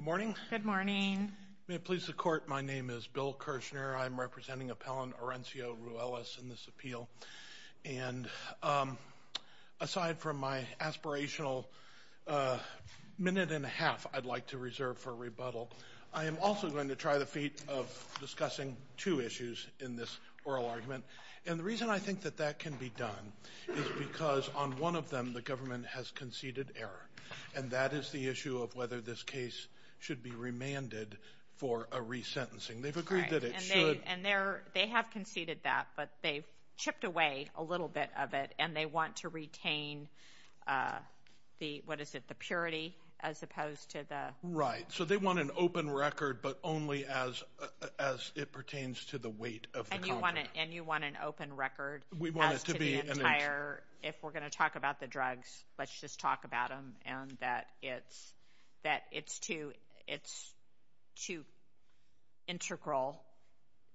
Good morning. May it please the court, my name is Bill Kirshner. I'm representing appellant Orencio Ruelas in this appeal. And aside from my aspirational minute and a half I'd like to reserve for rebuttal, I am also going to try the feat of discussing two issues in this oral argument. And the reason I think that that can be done is because on one of them the government has conceded error. And that is the issue of whether this case should be remanded for a resentencing. They've agreed that it should. And they're they have conceded that but they've chipped away a little bit of it and they want to retain the what is it the purity as opposed to the. Right so they want an open record but only as as it pertains to the weight of. And you want it and you want an open record. We want it to be. If we're going to talk about the drugs let's just talk about them. And that it's that it's too it's too integral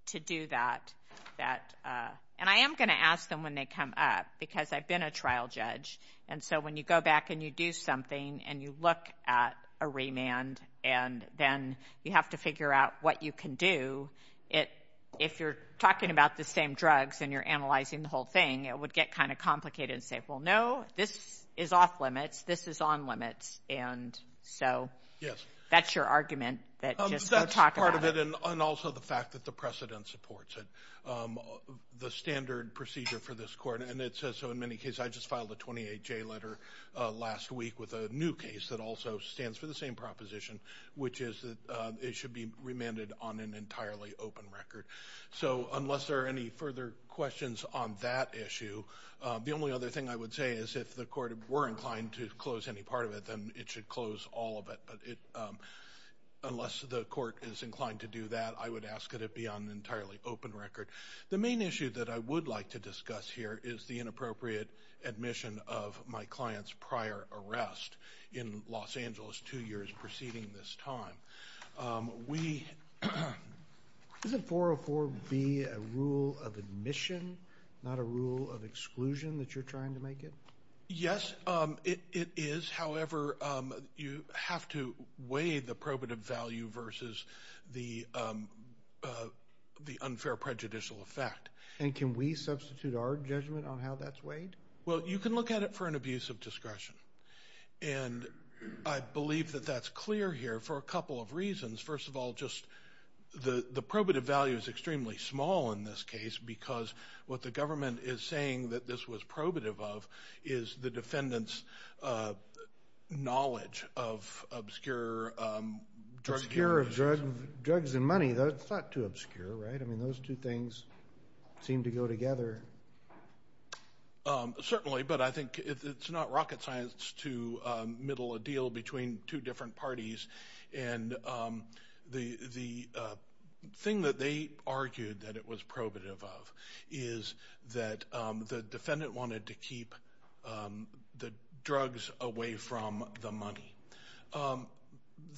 to do that. That and I am going to ask them when they come up because I've been a trial judge. And so when you go back and you do something and you look at a remand and then you have to figure out what you can do. If you're talking about the same drugs and you're analyzing the whole thing it would get kind of complicated and say well no this is off limits. This is on limits. And so. Yes. That's your argument that just don't talk about it. That's part of it and also the fact that the precedent supports it. The standard procedure for this court and it says so in many cases I just filed a 28 J letter last week with a new case that also stands for the same proposition. Which is that it should be remanded on an entirely open record. So unless there are any further questions on that issue. The only other thing I would say is if the court were inclined to close any part of it then it should close all of it. But it unless the court is inclined to do that I would ask it it be on an entirely open record. The main issue that I would like to discuss here is the inappropriate admission of my client's prior arrest in Los Angeles two years preceding this time. We. Doesn't 404 be a rule of admission not a rule of admission to make it? Yes it is. However you have to weigh the probative value versus the the unfair prejudicial effect. And can we substitute our judgment on how that's weighed? Well you can look at it for an abuse of discretion. And I believe that that's clear here for a couple of reasons. First of all just the the probative value is extremely small in this case because what the government is saying that this was probative of is the defendant's knowledge of obscure drugs and money. That's not too obscure right? I mean those two things seem to go together. Certainly but I think it's not rocket science to middle a deal between two different parties. And the the thing that they probative of is that the defendant wanted to keep the drugs away from the money.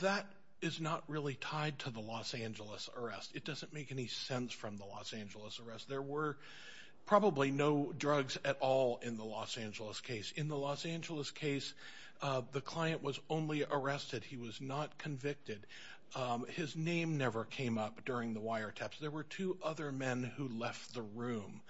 That is not really tied to the Los Angeles arrest. It doesn't make any sense from the Los Angeles arrest. There were probably no drugs at all in the Los Angeles case. In the Los Angeles case the client was only arrested. He was not convicted. His name never came up during the wiretaps. There were two other men who left the room.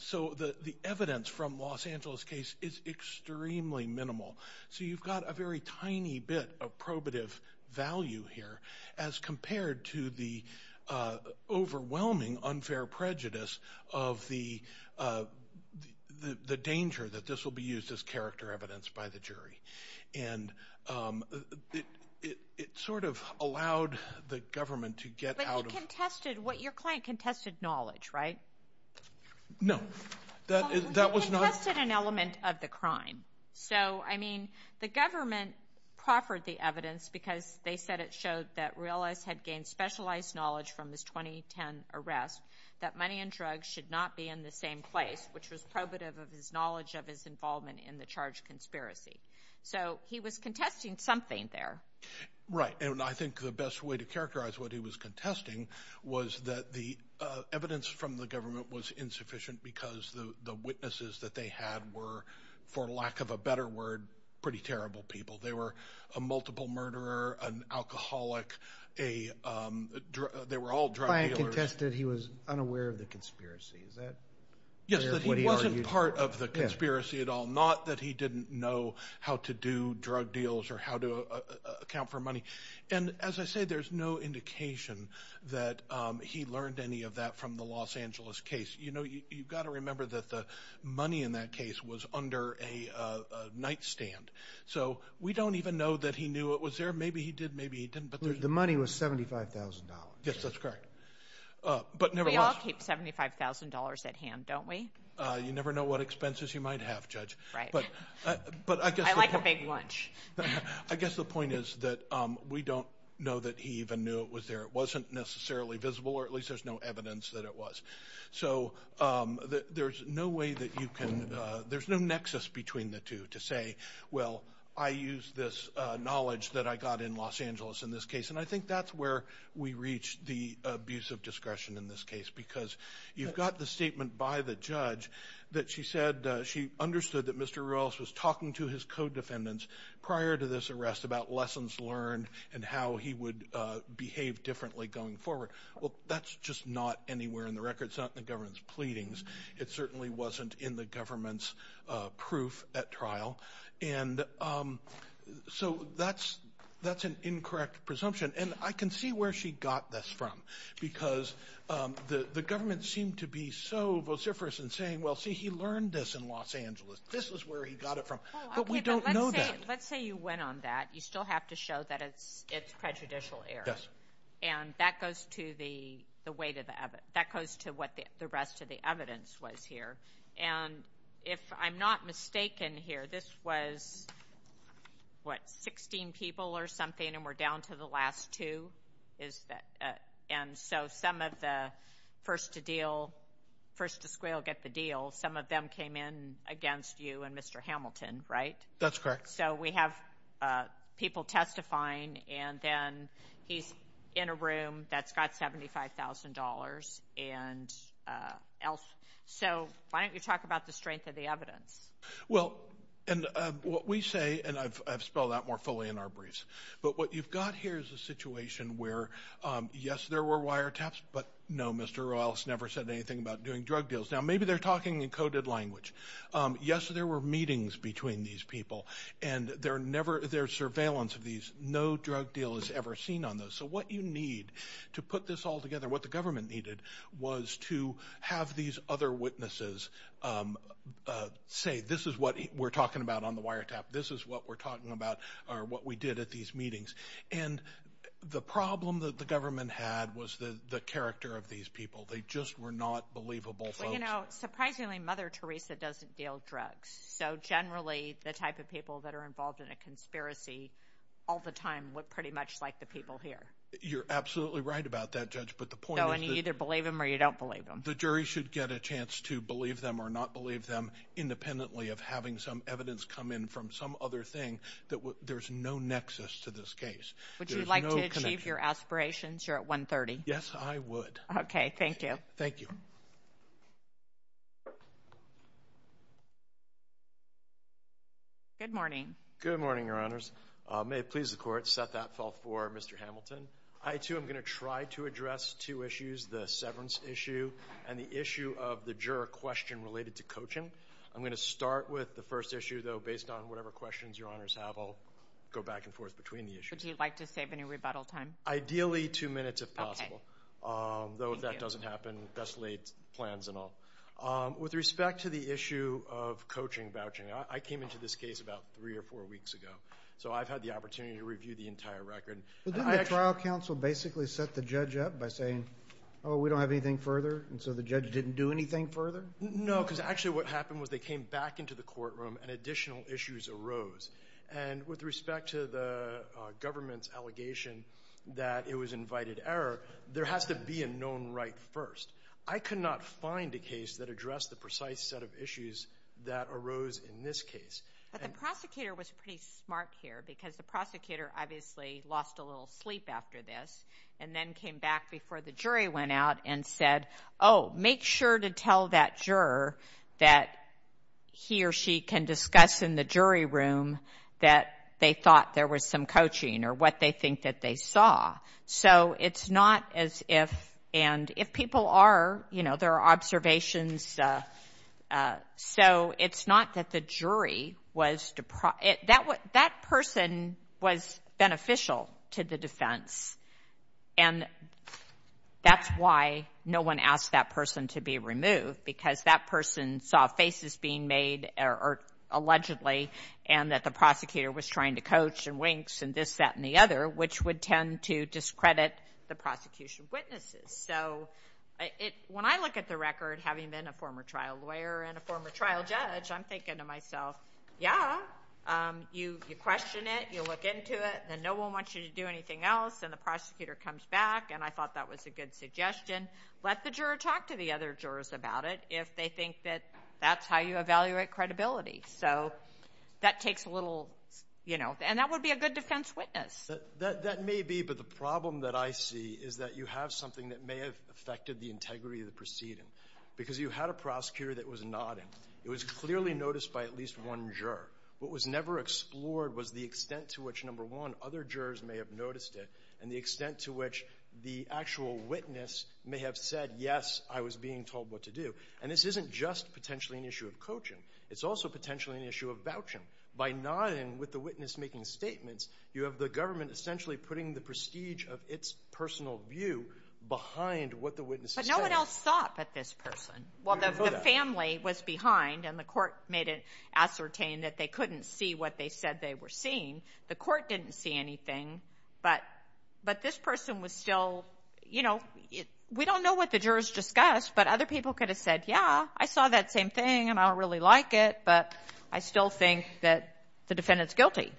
So the the evidence from Los Angeles case is extremely minimal. So you've got a very tiny bit of probative value here as compared to the overwhelming unfair prejudice of the the danger that this will be used as character evidence by the jury. And it sort of allowed the government to get out of... But he contested what your client contested knowledge right? No that was not... He contested an element of the crime. So I mean the government proffered the evidence because they said it showed that Reales had gained specialized knowledge from this 2010 arrest that money and drugs should not be in the same place which was probative of his knowledge of his involvement in the charge conspiracy. So he was contesting something there. Right and I think the best way to contesting was that the evidence from the government was insufficient because the witnesses that they had were, for lack of a better word, pretty terrible people. They were a multiple murderer, an alcoholic, they were all drug dealers. The client contested he was unaware of the conspiracy. Is that what he argued? Yes, that he wasn't part of the conspiracy at all. Not that he didn't know how to do drug deals or how to that he learned any of that from the Los Angeles case. You know you've got to remember that the money in that case was under a nightstand. So we don't even know that he knew it was there. Maybe he did, maybe he didn't. But the money was $75,000. Yes that's correct. But we all keep $75,000 at hand don't we? You never know what expenses you might have judge. Right. But I guess... I like a big lunch. I guess the we don't know that he even knew it was there. It wasn't necessarily visible or at least there's no evidence that it was. So there's no way that you can... there's no nexus between the two to say well I use this knowledge that I got in Los Angeles in this case. And I think that's where we reach the abuse of discretion in this case. Because you've got the statement by the judge that she said she understood that Mr. Ruelas was talking to his co-defendants prior to this arrest about lessons learned and how he would behave differently going forward. Well that's just not anywhere in the record. It's not in the government's pleadings. It certainly wasn't in the government's proof at trial. And so that's that's an incorrect presumption. And I can see where she got this from. Because the government seemed to be so vociferous in saying well see he learned this in Los Angeles. This is where he got it from. But we don't know that. Let's say you went on that. You still have to show that it's it's prejudicial error. Yes. And that goes to the the weight of the evidence. That goes to what the rest of the evidence was here. And if I'm not mistaken here this was what 16 people or something and we're down to the last two. Is that and so some of the first to deal first to square get the deal some of them came in against you and Mr. Hamilton right? That's correct. So we have people testifying and then he's in a room that's got $75,000 and else. So why don't you talk about the strength of the evidence? Well and what we say and I've spelled out more fully in our briefs. But what you've got here is a situation where yes there were wiretaps but no Mr. Royles never said anything about doing drug deals. Now maybe they're talking in coded language. Yes there were meetings between these people and they're never there surveillance of these. No drug deal is ever seen on those. So what you need to put this all together what the government needed was to have these other witnesses say this is what we're talking about on the wiretap. This is what we're talking about or what we did at these meetings. And the problem that the government had was the the character of these people. They just were not believable. You know surprisingly Mother Teresa doesn't deal drugs. So generally the type of people that are involved in a conspiracy all the time look pretty much like the people here. You're absolutely right about that judge. But the point is you either believe them or you don't believe them. The jury should get a chance to believe them or not believe them independently of having some evidence come in from some other thing that there's no nexus to this case. Would you like to achieve your aspirations? You're at 130. Yes I would. Okay. Thank you. Thank you. Good morning. Good morning. Your honors. May it please the court set that fall for Mr. Hamilton. I too am going to try to address two issues. The severance issue and the issue of the juror question related to coaching. I'm going to start with the first issue though based on whatever questions your honors have. I'll go back and forth between the issues. Would you like to save any though if that doesn't happen. That's late plans and all. With respect to the issue of coaching vouching. I came into this case about three or four weeks ago. So I've had the opportunity to review the entire record. But then the trial counsel basically set the judge up by saying oh we don't have anything further. And so the judge didn't do anything further. No because actually what happened was they came back into the courtroom and additional issues arose. And with respect to the government's allegation that it was being known right first. I could not find a case that addressed the precise set of issues that arose in this case. But the prosecutor was pretty smart here because the prosecutor obviously lost a little sleep after this. And then came back before the jury went out and said oh make sure to tell that juror that he or she can discuss in the jury room that they thought there was some coaching or what they think that they saw. So it's not as if and if people are you know there are observations. So it's not that the jury was to that what that person was beneficial to the defense. And that's why no one asked that person to be removed. Because that person saw faces being made or allegedly and that the prosecutor was trying to coach and winks and this that and the other which would tend to discredit the prosecution witnesses. So it when I look at the record having been a former trial lawyer and a former trial judge I'm thinking to myself yeah you you question it you look into it then no one wants you to do anything else and the prosecutor comes back and I thought that was a good suggestion. Let the juror talk to the other jurors about it if they think that that's how you evaluate credibility. So that takes a little you know and that would be a good defense witness. That may be but the problem that I see is that you have something that may have affected the integrity of the proceeding. Because you had a prosecutor that was nodding. It was clearly noticed by at least one juror. What was never explored was the extent to which number one other jurors may have noticed it and the extent to which the actual witness may have said yes I was being told what to do. And this isn't just potentially an issue of coaching. It's also potentially an issue of vouching. By nodding with the witness making statements you have the government essentially putting the prestige of its personal view behind what the witness is saying. But no one else saw it but this person. Well the family was behind and the court made it ascertain that they couldn't see what they said they were seeing. The court didn't see anything but but this person was still you know we don't know what the jurors discussed but other people could have said yeah I saw that same thing and I don't really like it but I still think that the defendant's guilty.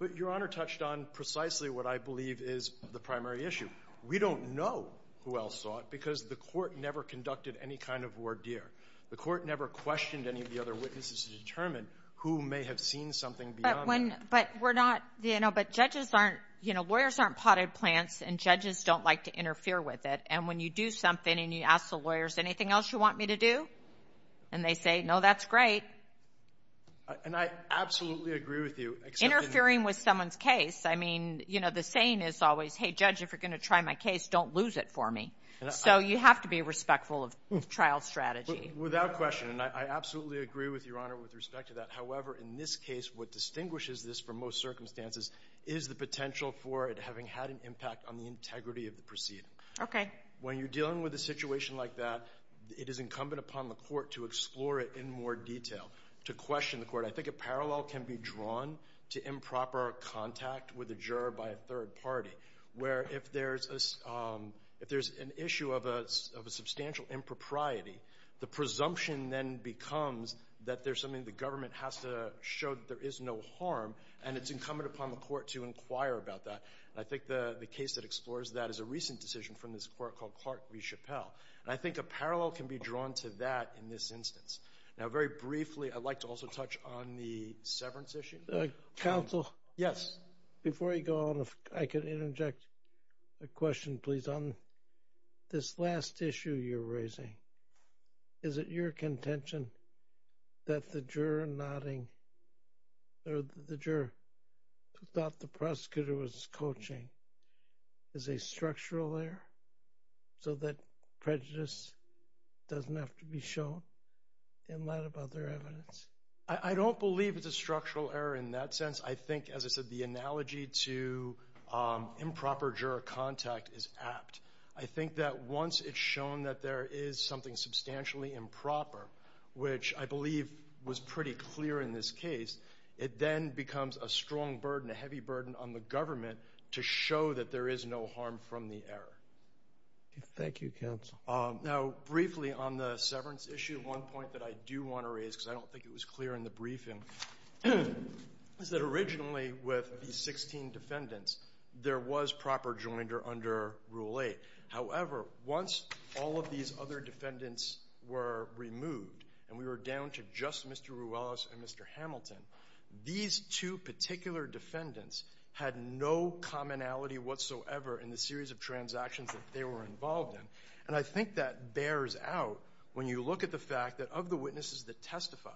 But Your Honor touched on precisely what I believe is the primary issue. We don't know who else saw it because the court never conducted any kind of ordeer. The court never questioned any of the other witnesses to determine who may have seen something beyond that. But we're not you know but judges aren't you know lawyers aren't potted plants and judges don't like to interfere with it and when you do something and you ask the lawyers anything else you want me to do and they say no that's great. And I absolutely agree with you. Interfering with someone's case I mean you know the same is always hey judge if you're going to try my case don't lose it for me. So you have to be respectful of trial strategy. Without question and I absolutely agree with Your Honor with respect to that. However in this case what distinguishes this from most circumstances is the potential for it having had an impact on the integrity of the proceeding. Okay. When you're dealing with a situation like that it is incumbent upon the court to explore it in more detail to question the court. I think a parallel can be drawn to improper contact with a juror by a third party where if there's a if there's an issue of a substantial impropriety the presumption then becomes that there's something the government has to show that there is no harm and it's incumbent upon the court to inquire about that. I think the case that explores that is a recent decision from this court called Clark v. Chappelle and I think a parallel can be drawn to that in this instance. Now very briefly I'd like to also touch on the severance issue. Counsel. Yes. Before you go on if I could interject a question please on this last issue you're contention that the juror nodding or the juror who thought the prosecutor was coaching is a structural error so that prejudice doesn't have to be shown in light of other evidence. I don't believe it's a structural error in that sense. I think as I said the analogy to improper juror contact is apt. I think that once it's shown that there is something substantially improper which I believe was pretty clear in this case it then becomes a strong burden a heavy burden on the government to show that there is no harm from the error. Thank you counsel. Now briefly on the severance issue one point that I do want to raise because I don't think it was clear in the briefing is that originally with the 16 defendants there was proper joinder under Rule 8. However once all of these other defendants were removed and we were down to just Mr. Ruelas and Mr. Hamilton these two particular defendants had no commonality whatsoever in the series of transactions that they were involved in. And I think that bears out when you look at the fact that of the witnesses that testified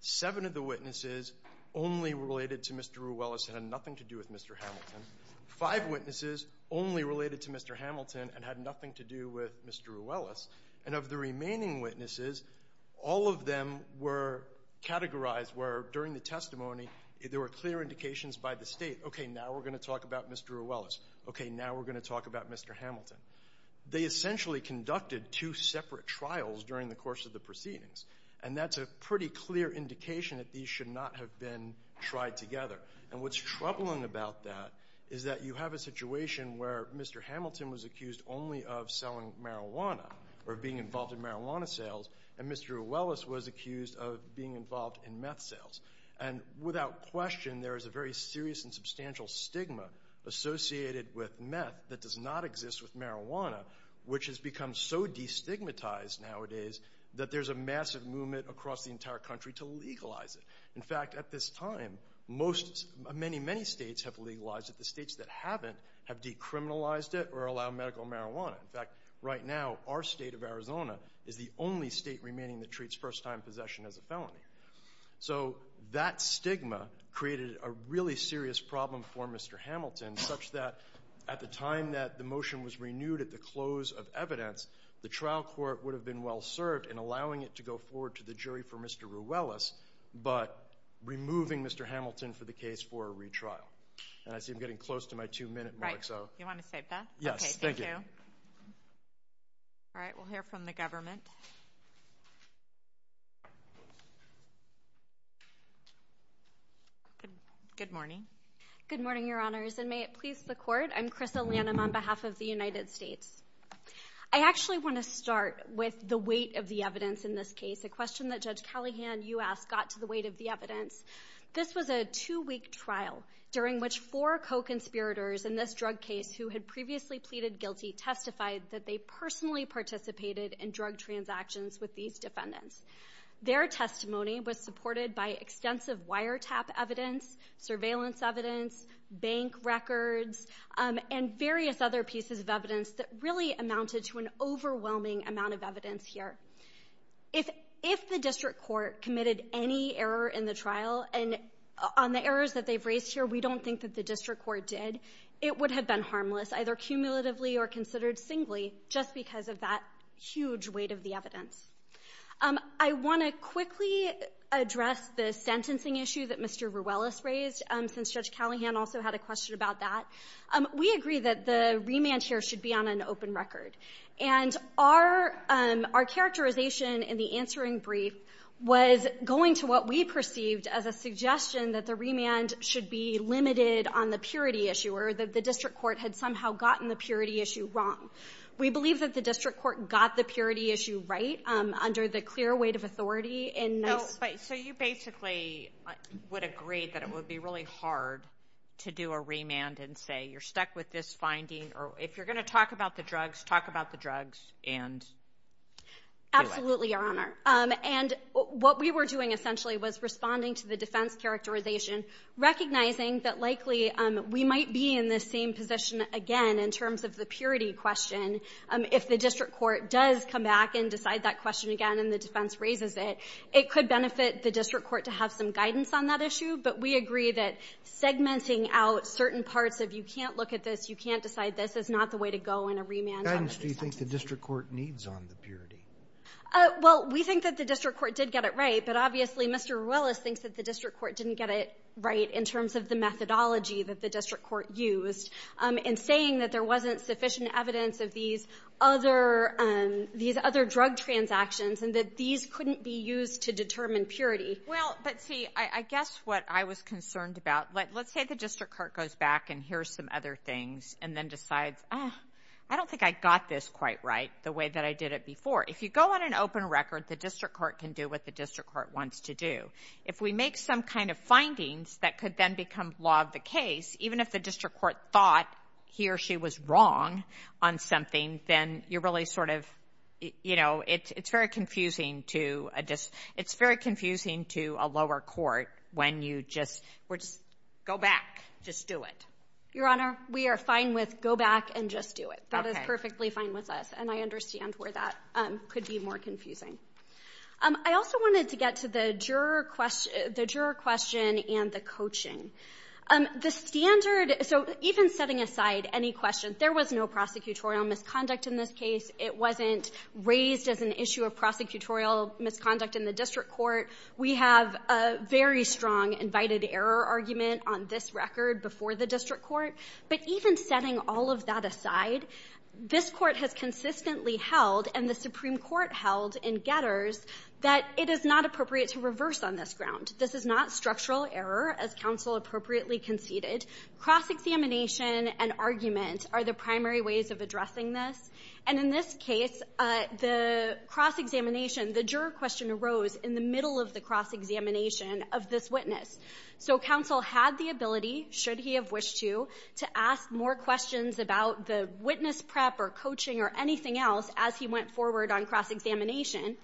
seven of the witnesses only related to Mr. Ruelas had nothing to do with Mr. Hamilton. Five witnesses only related to Mr. Hamilton and had nothing to do with Mr. Ruelas. And of the remaining witnesses all of them were categorized where during the testimony there were clear indications by the State okay now we're going to talk about Mr. Ruelas. Okay now we're going to talk about Mr. Hamilton. They essentially conducted two separate trials during the course of the proceedings and that's a pretty clear indication that these should not have been tried together. And what's troubling about that is that you have a situation where Mr. Hamilton was accused only of selling marijuana or being involved in marijuana sales and Mr. Ruelas was accused of being involved in meth sales. And without question there is a very serious and substantial stigma associated with meth that does not exist with marijuana which has become so destigmatized nowadays that there's a massive movement across the entire country to legalize it. In fact at this time most many many states have legalized it. The states that haven't have decriminalized it or allowed medical marijuana. In fact right now our state of Arizona is the only state remaining that treats first time possession as a felony. So that stigma created a really serious problem for Mr. Hamilton such that at the time that the motion was renewed at the close of evidence the trial court would have been well served in allowing it to go forward to the jury for Mr. Ruelas but removing Mr. Hamilton for the case for a retrial. And I see I'm getting close to my two minute mark so. You want to save that? Yes. Thank you. All right we'll hear from the government. Good morning. Good morning your honors and may it please the court. I'm Krista Lanham on behalf of the United States. I actually want to start with the weight of the evidence in this case. A question that Judge Callahan you asked got to the weight of the evidence. This was a two-week trial during which four co-conspirators in this drug case who had previously pleaded guilty testified that they personally participated in drug transactions with these defendants. Their testimony was supported by extensive wiretap evidence, surveillance evidence, bank records, and various other pieces of evidence that really amounted to an overwhelming amount of evidence here. If the district court committed any error in the trial and on the errors that they've raised here we don't think that the district court did, it would have been harmless either cumulatively or considered singly just because of that huge weight of the evidence. I want to quickly address the sentencing issue that Mr. Ruelas raised since Judge Callahan also had a question about that. We agree that the remand here should be on an open record and our characterization in the answering brief was going to what we perceived as a suggestion that the remand should be limited on the purity issue or that the district court had somehow gotten the purity issue wrong. We believe that the district court got the purity issue right under the clear weight of authority. So you basically would agree that it would be really hard to do a remand and say you're stuck with this finding or if you're going to talk about the drugs, talk about the drugs and... Absolutely, Your Honor. And what we were doing essentially was responding to the defense characterization, recognizing that likely we might be in the same position again in terms of the purity question. If the district court does come back and decide that question again and the defense raises it, it could benefit the district court to have some guidance on that issue, but we agree that segmenting out certain parts of you can't look at this, you can't decide this is not the way to go in a remand. Do you think the district court needs on the purity? Well, we think that the district court did get it right, but obviously Mr. Ruelas thinks that the district court didn't get it right in terms of the methodology that the district court used in saying that there wasn't sufficient evidence of these other drug transactions and that these couldn't be used to determine purity. Well, but see, I guess what I was concerned about, let's say the district court goes back and hears some other things and then decides, I don't think I got this quite right the way that I did it before. If you go on an open record, the district court can do what the district court wants to do. If we make some kind of findings that could then become law of the case, even if the district court thought he or she was wrong on something, then you're really sort of, you know, it's very confusing to a district. It's very confusing to a lower court when you just go back, just do it. Your Honor, we are fine with go back and just do it. That is perfectly fine with us. And I understand where that could be more confusing. I also wanted to get to the juror question and the coaching. The standard, so even setting aside any question, there was no prosecutorial misconduct in this case. It wasn't raised as an issue of prosecutorial misconduct in the district court. We have a very strong invited error argument on this record before the district court. But even setting all of that aside, this court has consistently held, and the Supreme Court held in Getters, that it is not appropriate to reverse on this ground. This is not structural error, as counsel appropriately conceded. Cross-examination and argument are the primary ways of addressing this. And in this case, the cross-examination, the juror question arose in the middle of the cross-examination of this witness. So counsel had the ability, should he have wished to, to ask more questions about the witness prep or coaching or anything else as he went forward on cross-examination.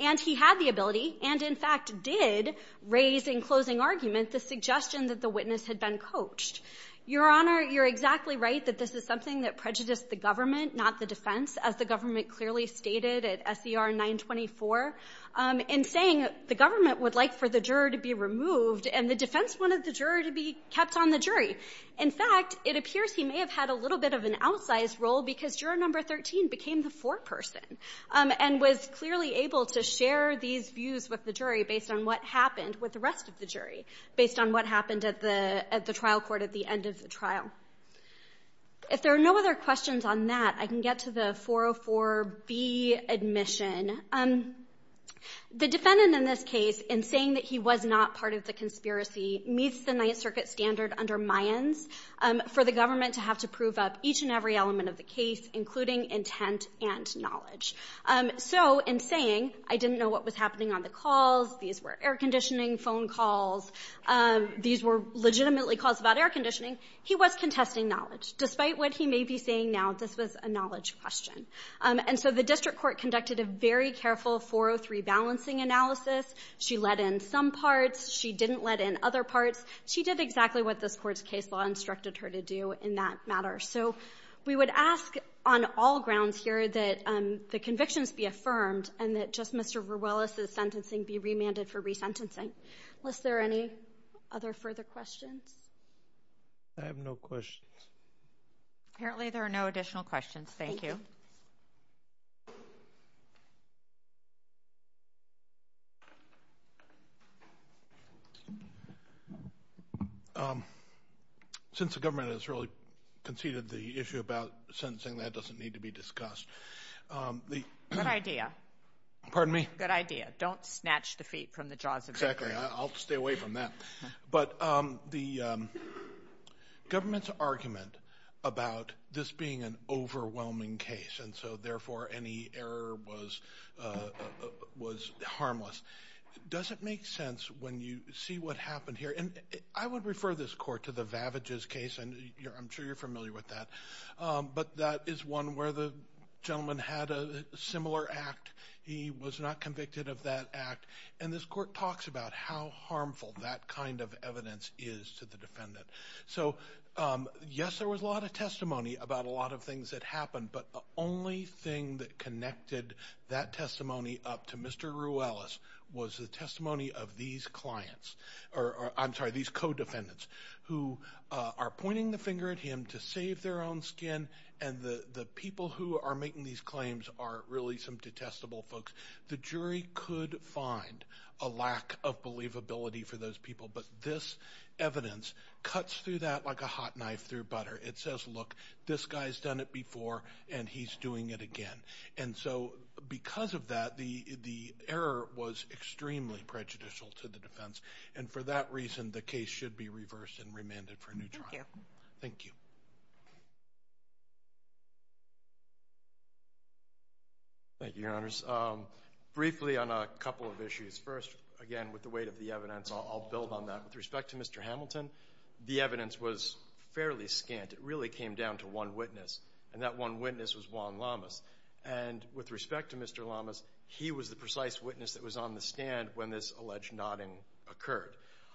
And he had the ability, and in fact did, raise in closing argument the suggestion that the witness had been coached. Your Honor, you're exactly right that this is something that prejudiced the government, not the defense, as the government clearly stated at S.E.R. 924, in saying the government would like for the juror to be removed, and the defense wanted the juror to be kept on the jury. In fact, it appears he may have had a little bit of an outsized role because juror number 13 became the foreperson and was clearly able to share these views with the jury based on what happened with the rest of the jury, based on what happened at the trial court at the end of the trial. If there are no other questions on that, I can get to the 404B admission. The defendant in this case, in saying that he was not part of the conspiracy, meets the Ninth Circuit standard under Mayans for the government to have to prove up each and every element of the case, including intent and knowledge. So in saying, I didn't know what was happening on the calls, these were air conditioning phone calls, these were legitimately calls about air conditioning, he was contesting knowledge. Despite what he may be saying now, this was a knowledge question. And so the district court conducted a very careful 403 balancing analysis. She let in some parts, she didn't let in other parts. She did exactly what this court's case law instructed her to do in that matter. So we would ask on all grounds here that the convictions be affirmed and that just Mr. Verwillis's sentencing be remanded for resentencing. Was there any other further questions? I have no questions. Apparently there are no additional questions. Thank you. Since the government has really conceded the issue about sentencing, that doesn't need to be discussed. Good idea. Pardon me? Good idea. Don't snatch the feet from the jaws of victory. Exactly, I'll stay away from that. But the government's argument about this being an overwhelming case and so therefore any error was harmless, doesn't make sense when you see what happened here. And I would refer this court to the Vavages case, and I'm sure you're familiar with that, but that is one where the gentleman had a similar act. He was not convicted of that act, and this court talks about how harmful that kind of evidence is to the defendant. So yes, there was a lot of testimony about a lot of things that happened, but the only thing that connected that testimony up to Mr. Verwillis was the testimony of these clients, or I'm sorry, these co-defendants who are pointing the finger at him to save their own skin, and the people who are making these claims are really some detestable folks. The jury could find a lack of believability for those people, but this evidence cuts through that like a hot knife through butter. It says, look, this guy's done it before and he's doing it again. And so because of that, the error was extremely prejudicial to the defense, and for that reason, the case should be reversed and remanded for a new trial. Thank you. Thank you, Your Honors. Briefly on a couple of issues. First, again, with the weight of the evidence, I'll build on that. With respect to Mr. Hamilton, the evidence was fairly scant. It really came down to one witness, and that one witness was Juan Lamas, and with respect to Mr. Lamas, he was the precise witness that was on the stand when this alleged nodding occurred.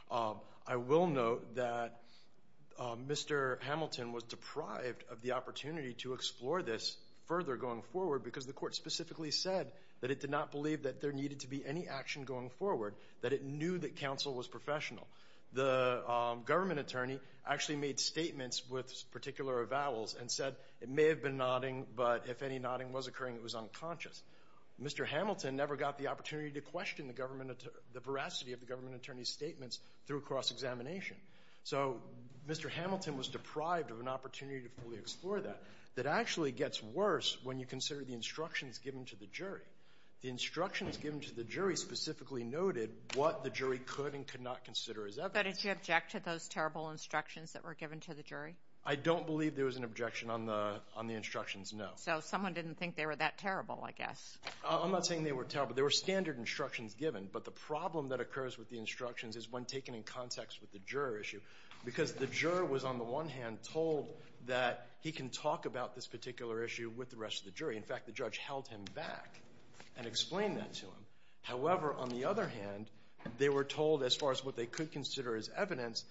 I will note that Mr. Hamilton was deprived of the opportunity to explore this further going forward because the court specifically said that it did not believe that there needed to be any action going forward, that it knew that counsel was professional. The government attorney actually made statements with particular vowels and said it may have been nodding, but if any nodding was occurring, it was unconscious. Mr. Hamilton never got the opportunity to question the veracity of the government attorney's statements through cross-examination. So Mr. Hamilton was deprived of an opportunity to fully explore that. That actually gets worse when you consider the instructions given to the jury. The instructions given to the jury specifically noted what the jury could and could not consider as evidence. But did you object to those terrible instructions that were given to the jury? I don't believe there was an objection on the instructions, no. So someone didn't think they were that terrible, I guess. I'm not saying they were terrible. There were standard instructions given, but the problem that occurs with the instructions is when taken in context with the juror issue, because the juror was on the one hand told that he can talk about this particular issue with the rest of the jury. In fact, the judge held him back and explained that to him. However, on the other hand, they were told as far as what they could consider as evidence,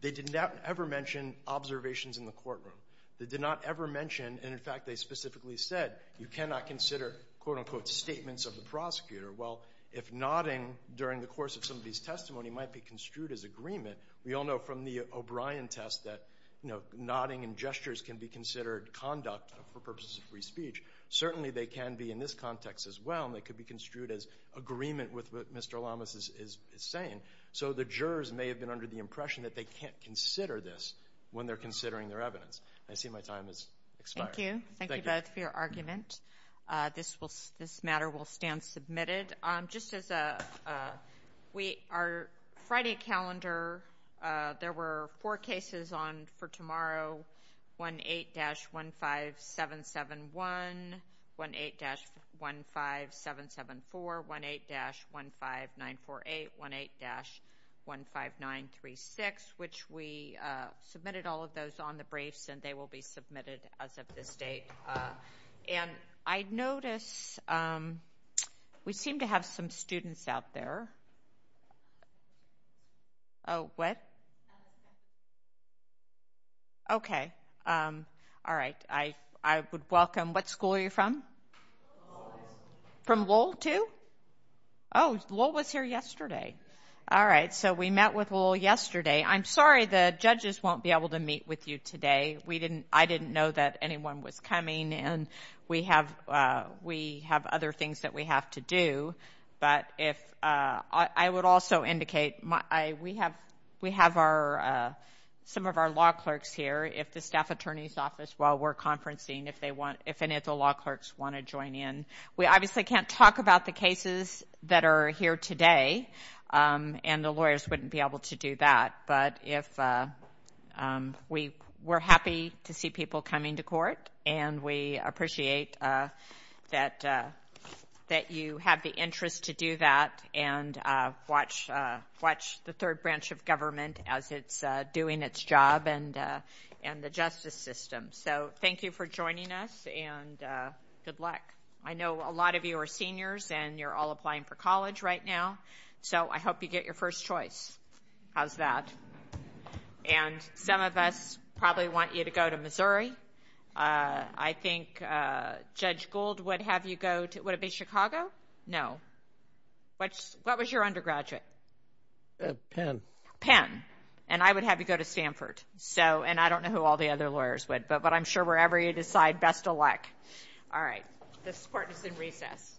they did not ever mention observations in the courtroom. They did not ever mention, and in fact, they specifically said, you cannot consider, quote, unquote, statements of the prosecutor. Well, if nodding during the course of somebody's testimony might be construed as agreement, we all know from the O'Brien test that, you know, nodding and gestures can be considered conduct for purposes of free speech. Certainly, they can be in this context as well, and they could be construed as agreement with what Mr. Lamas is saying. So the jurors may have been under the impression that they can't consider this when they're considering their evidence. I see my time has expired. Thank you. Thank you both for your argument. This matter will stand submitted. Just as we are Friday calendar, there were four cases on for tomorrow. 18-15771, 18-15774, 18-15948, 18-15936, which we submitted all of those on the We seem to have some students out there. Oh, what? Okay. All right. I would welcome what school you're from? From Lowell too? Oh, Lowell was here yesterday. All right. So we met with Lowell yesterday. I'm sorry the judges won't be able to meet with you today. We didn't, I didn't know that anyone was coming, and we have, we have other things that we have to do. But if, I would also indicate, I, we have, we have our, some of our law clerks here, if the staff attorney's office, while we're conferencing, if they want, if any of the law clerks want to join in. We obviously can't talk about the cases that are here today, and the lawyers wouldn't be able to do that. But if we, we're happy to see people coming to court, and we that you have the interest to do that, and watch, watch the third branch of government as it's doing its job, and, and the justice system. So thank you for joining us, and good luck. I know a lot of you are seniors, and you're all applying for college right now, so I hope you get your first choice. How's that? And some of us probably want you to go to Missouri. I think Judge Gould would have you go to, would it be Chicago? No. What's, what was your undergraduate? Penn. Penn. And I would have you go to Stanford. So, and I don't know who all the other lawyers would, but, but I'm sure wherever you decide, best of luck. All right. This court is in recess.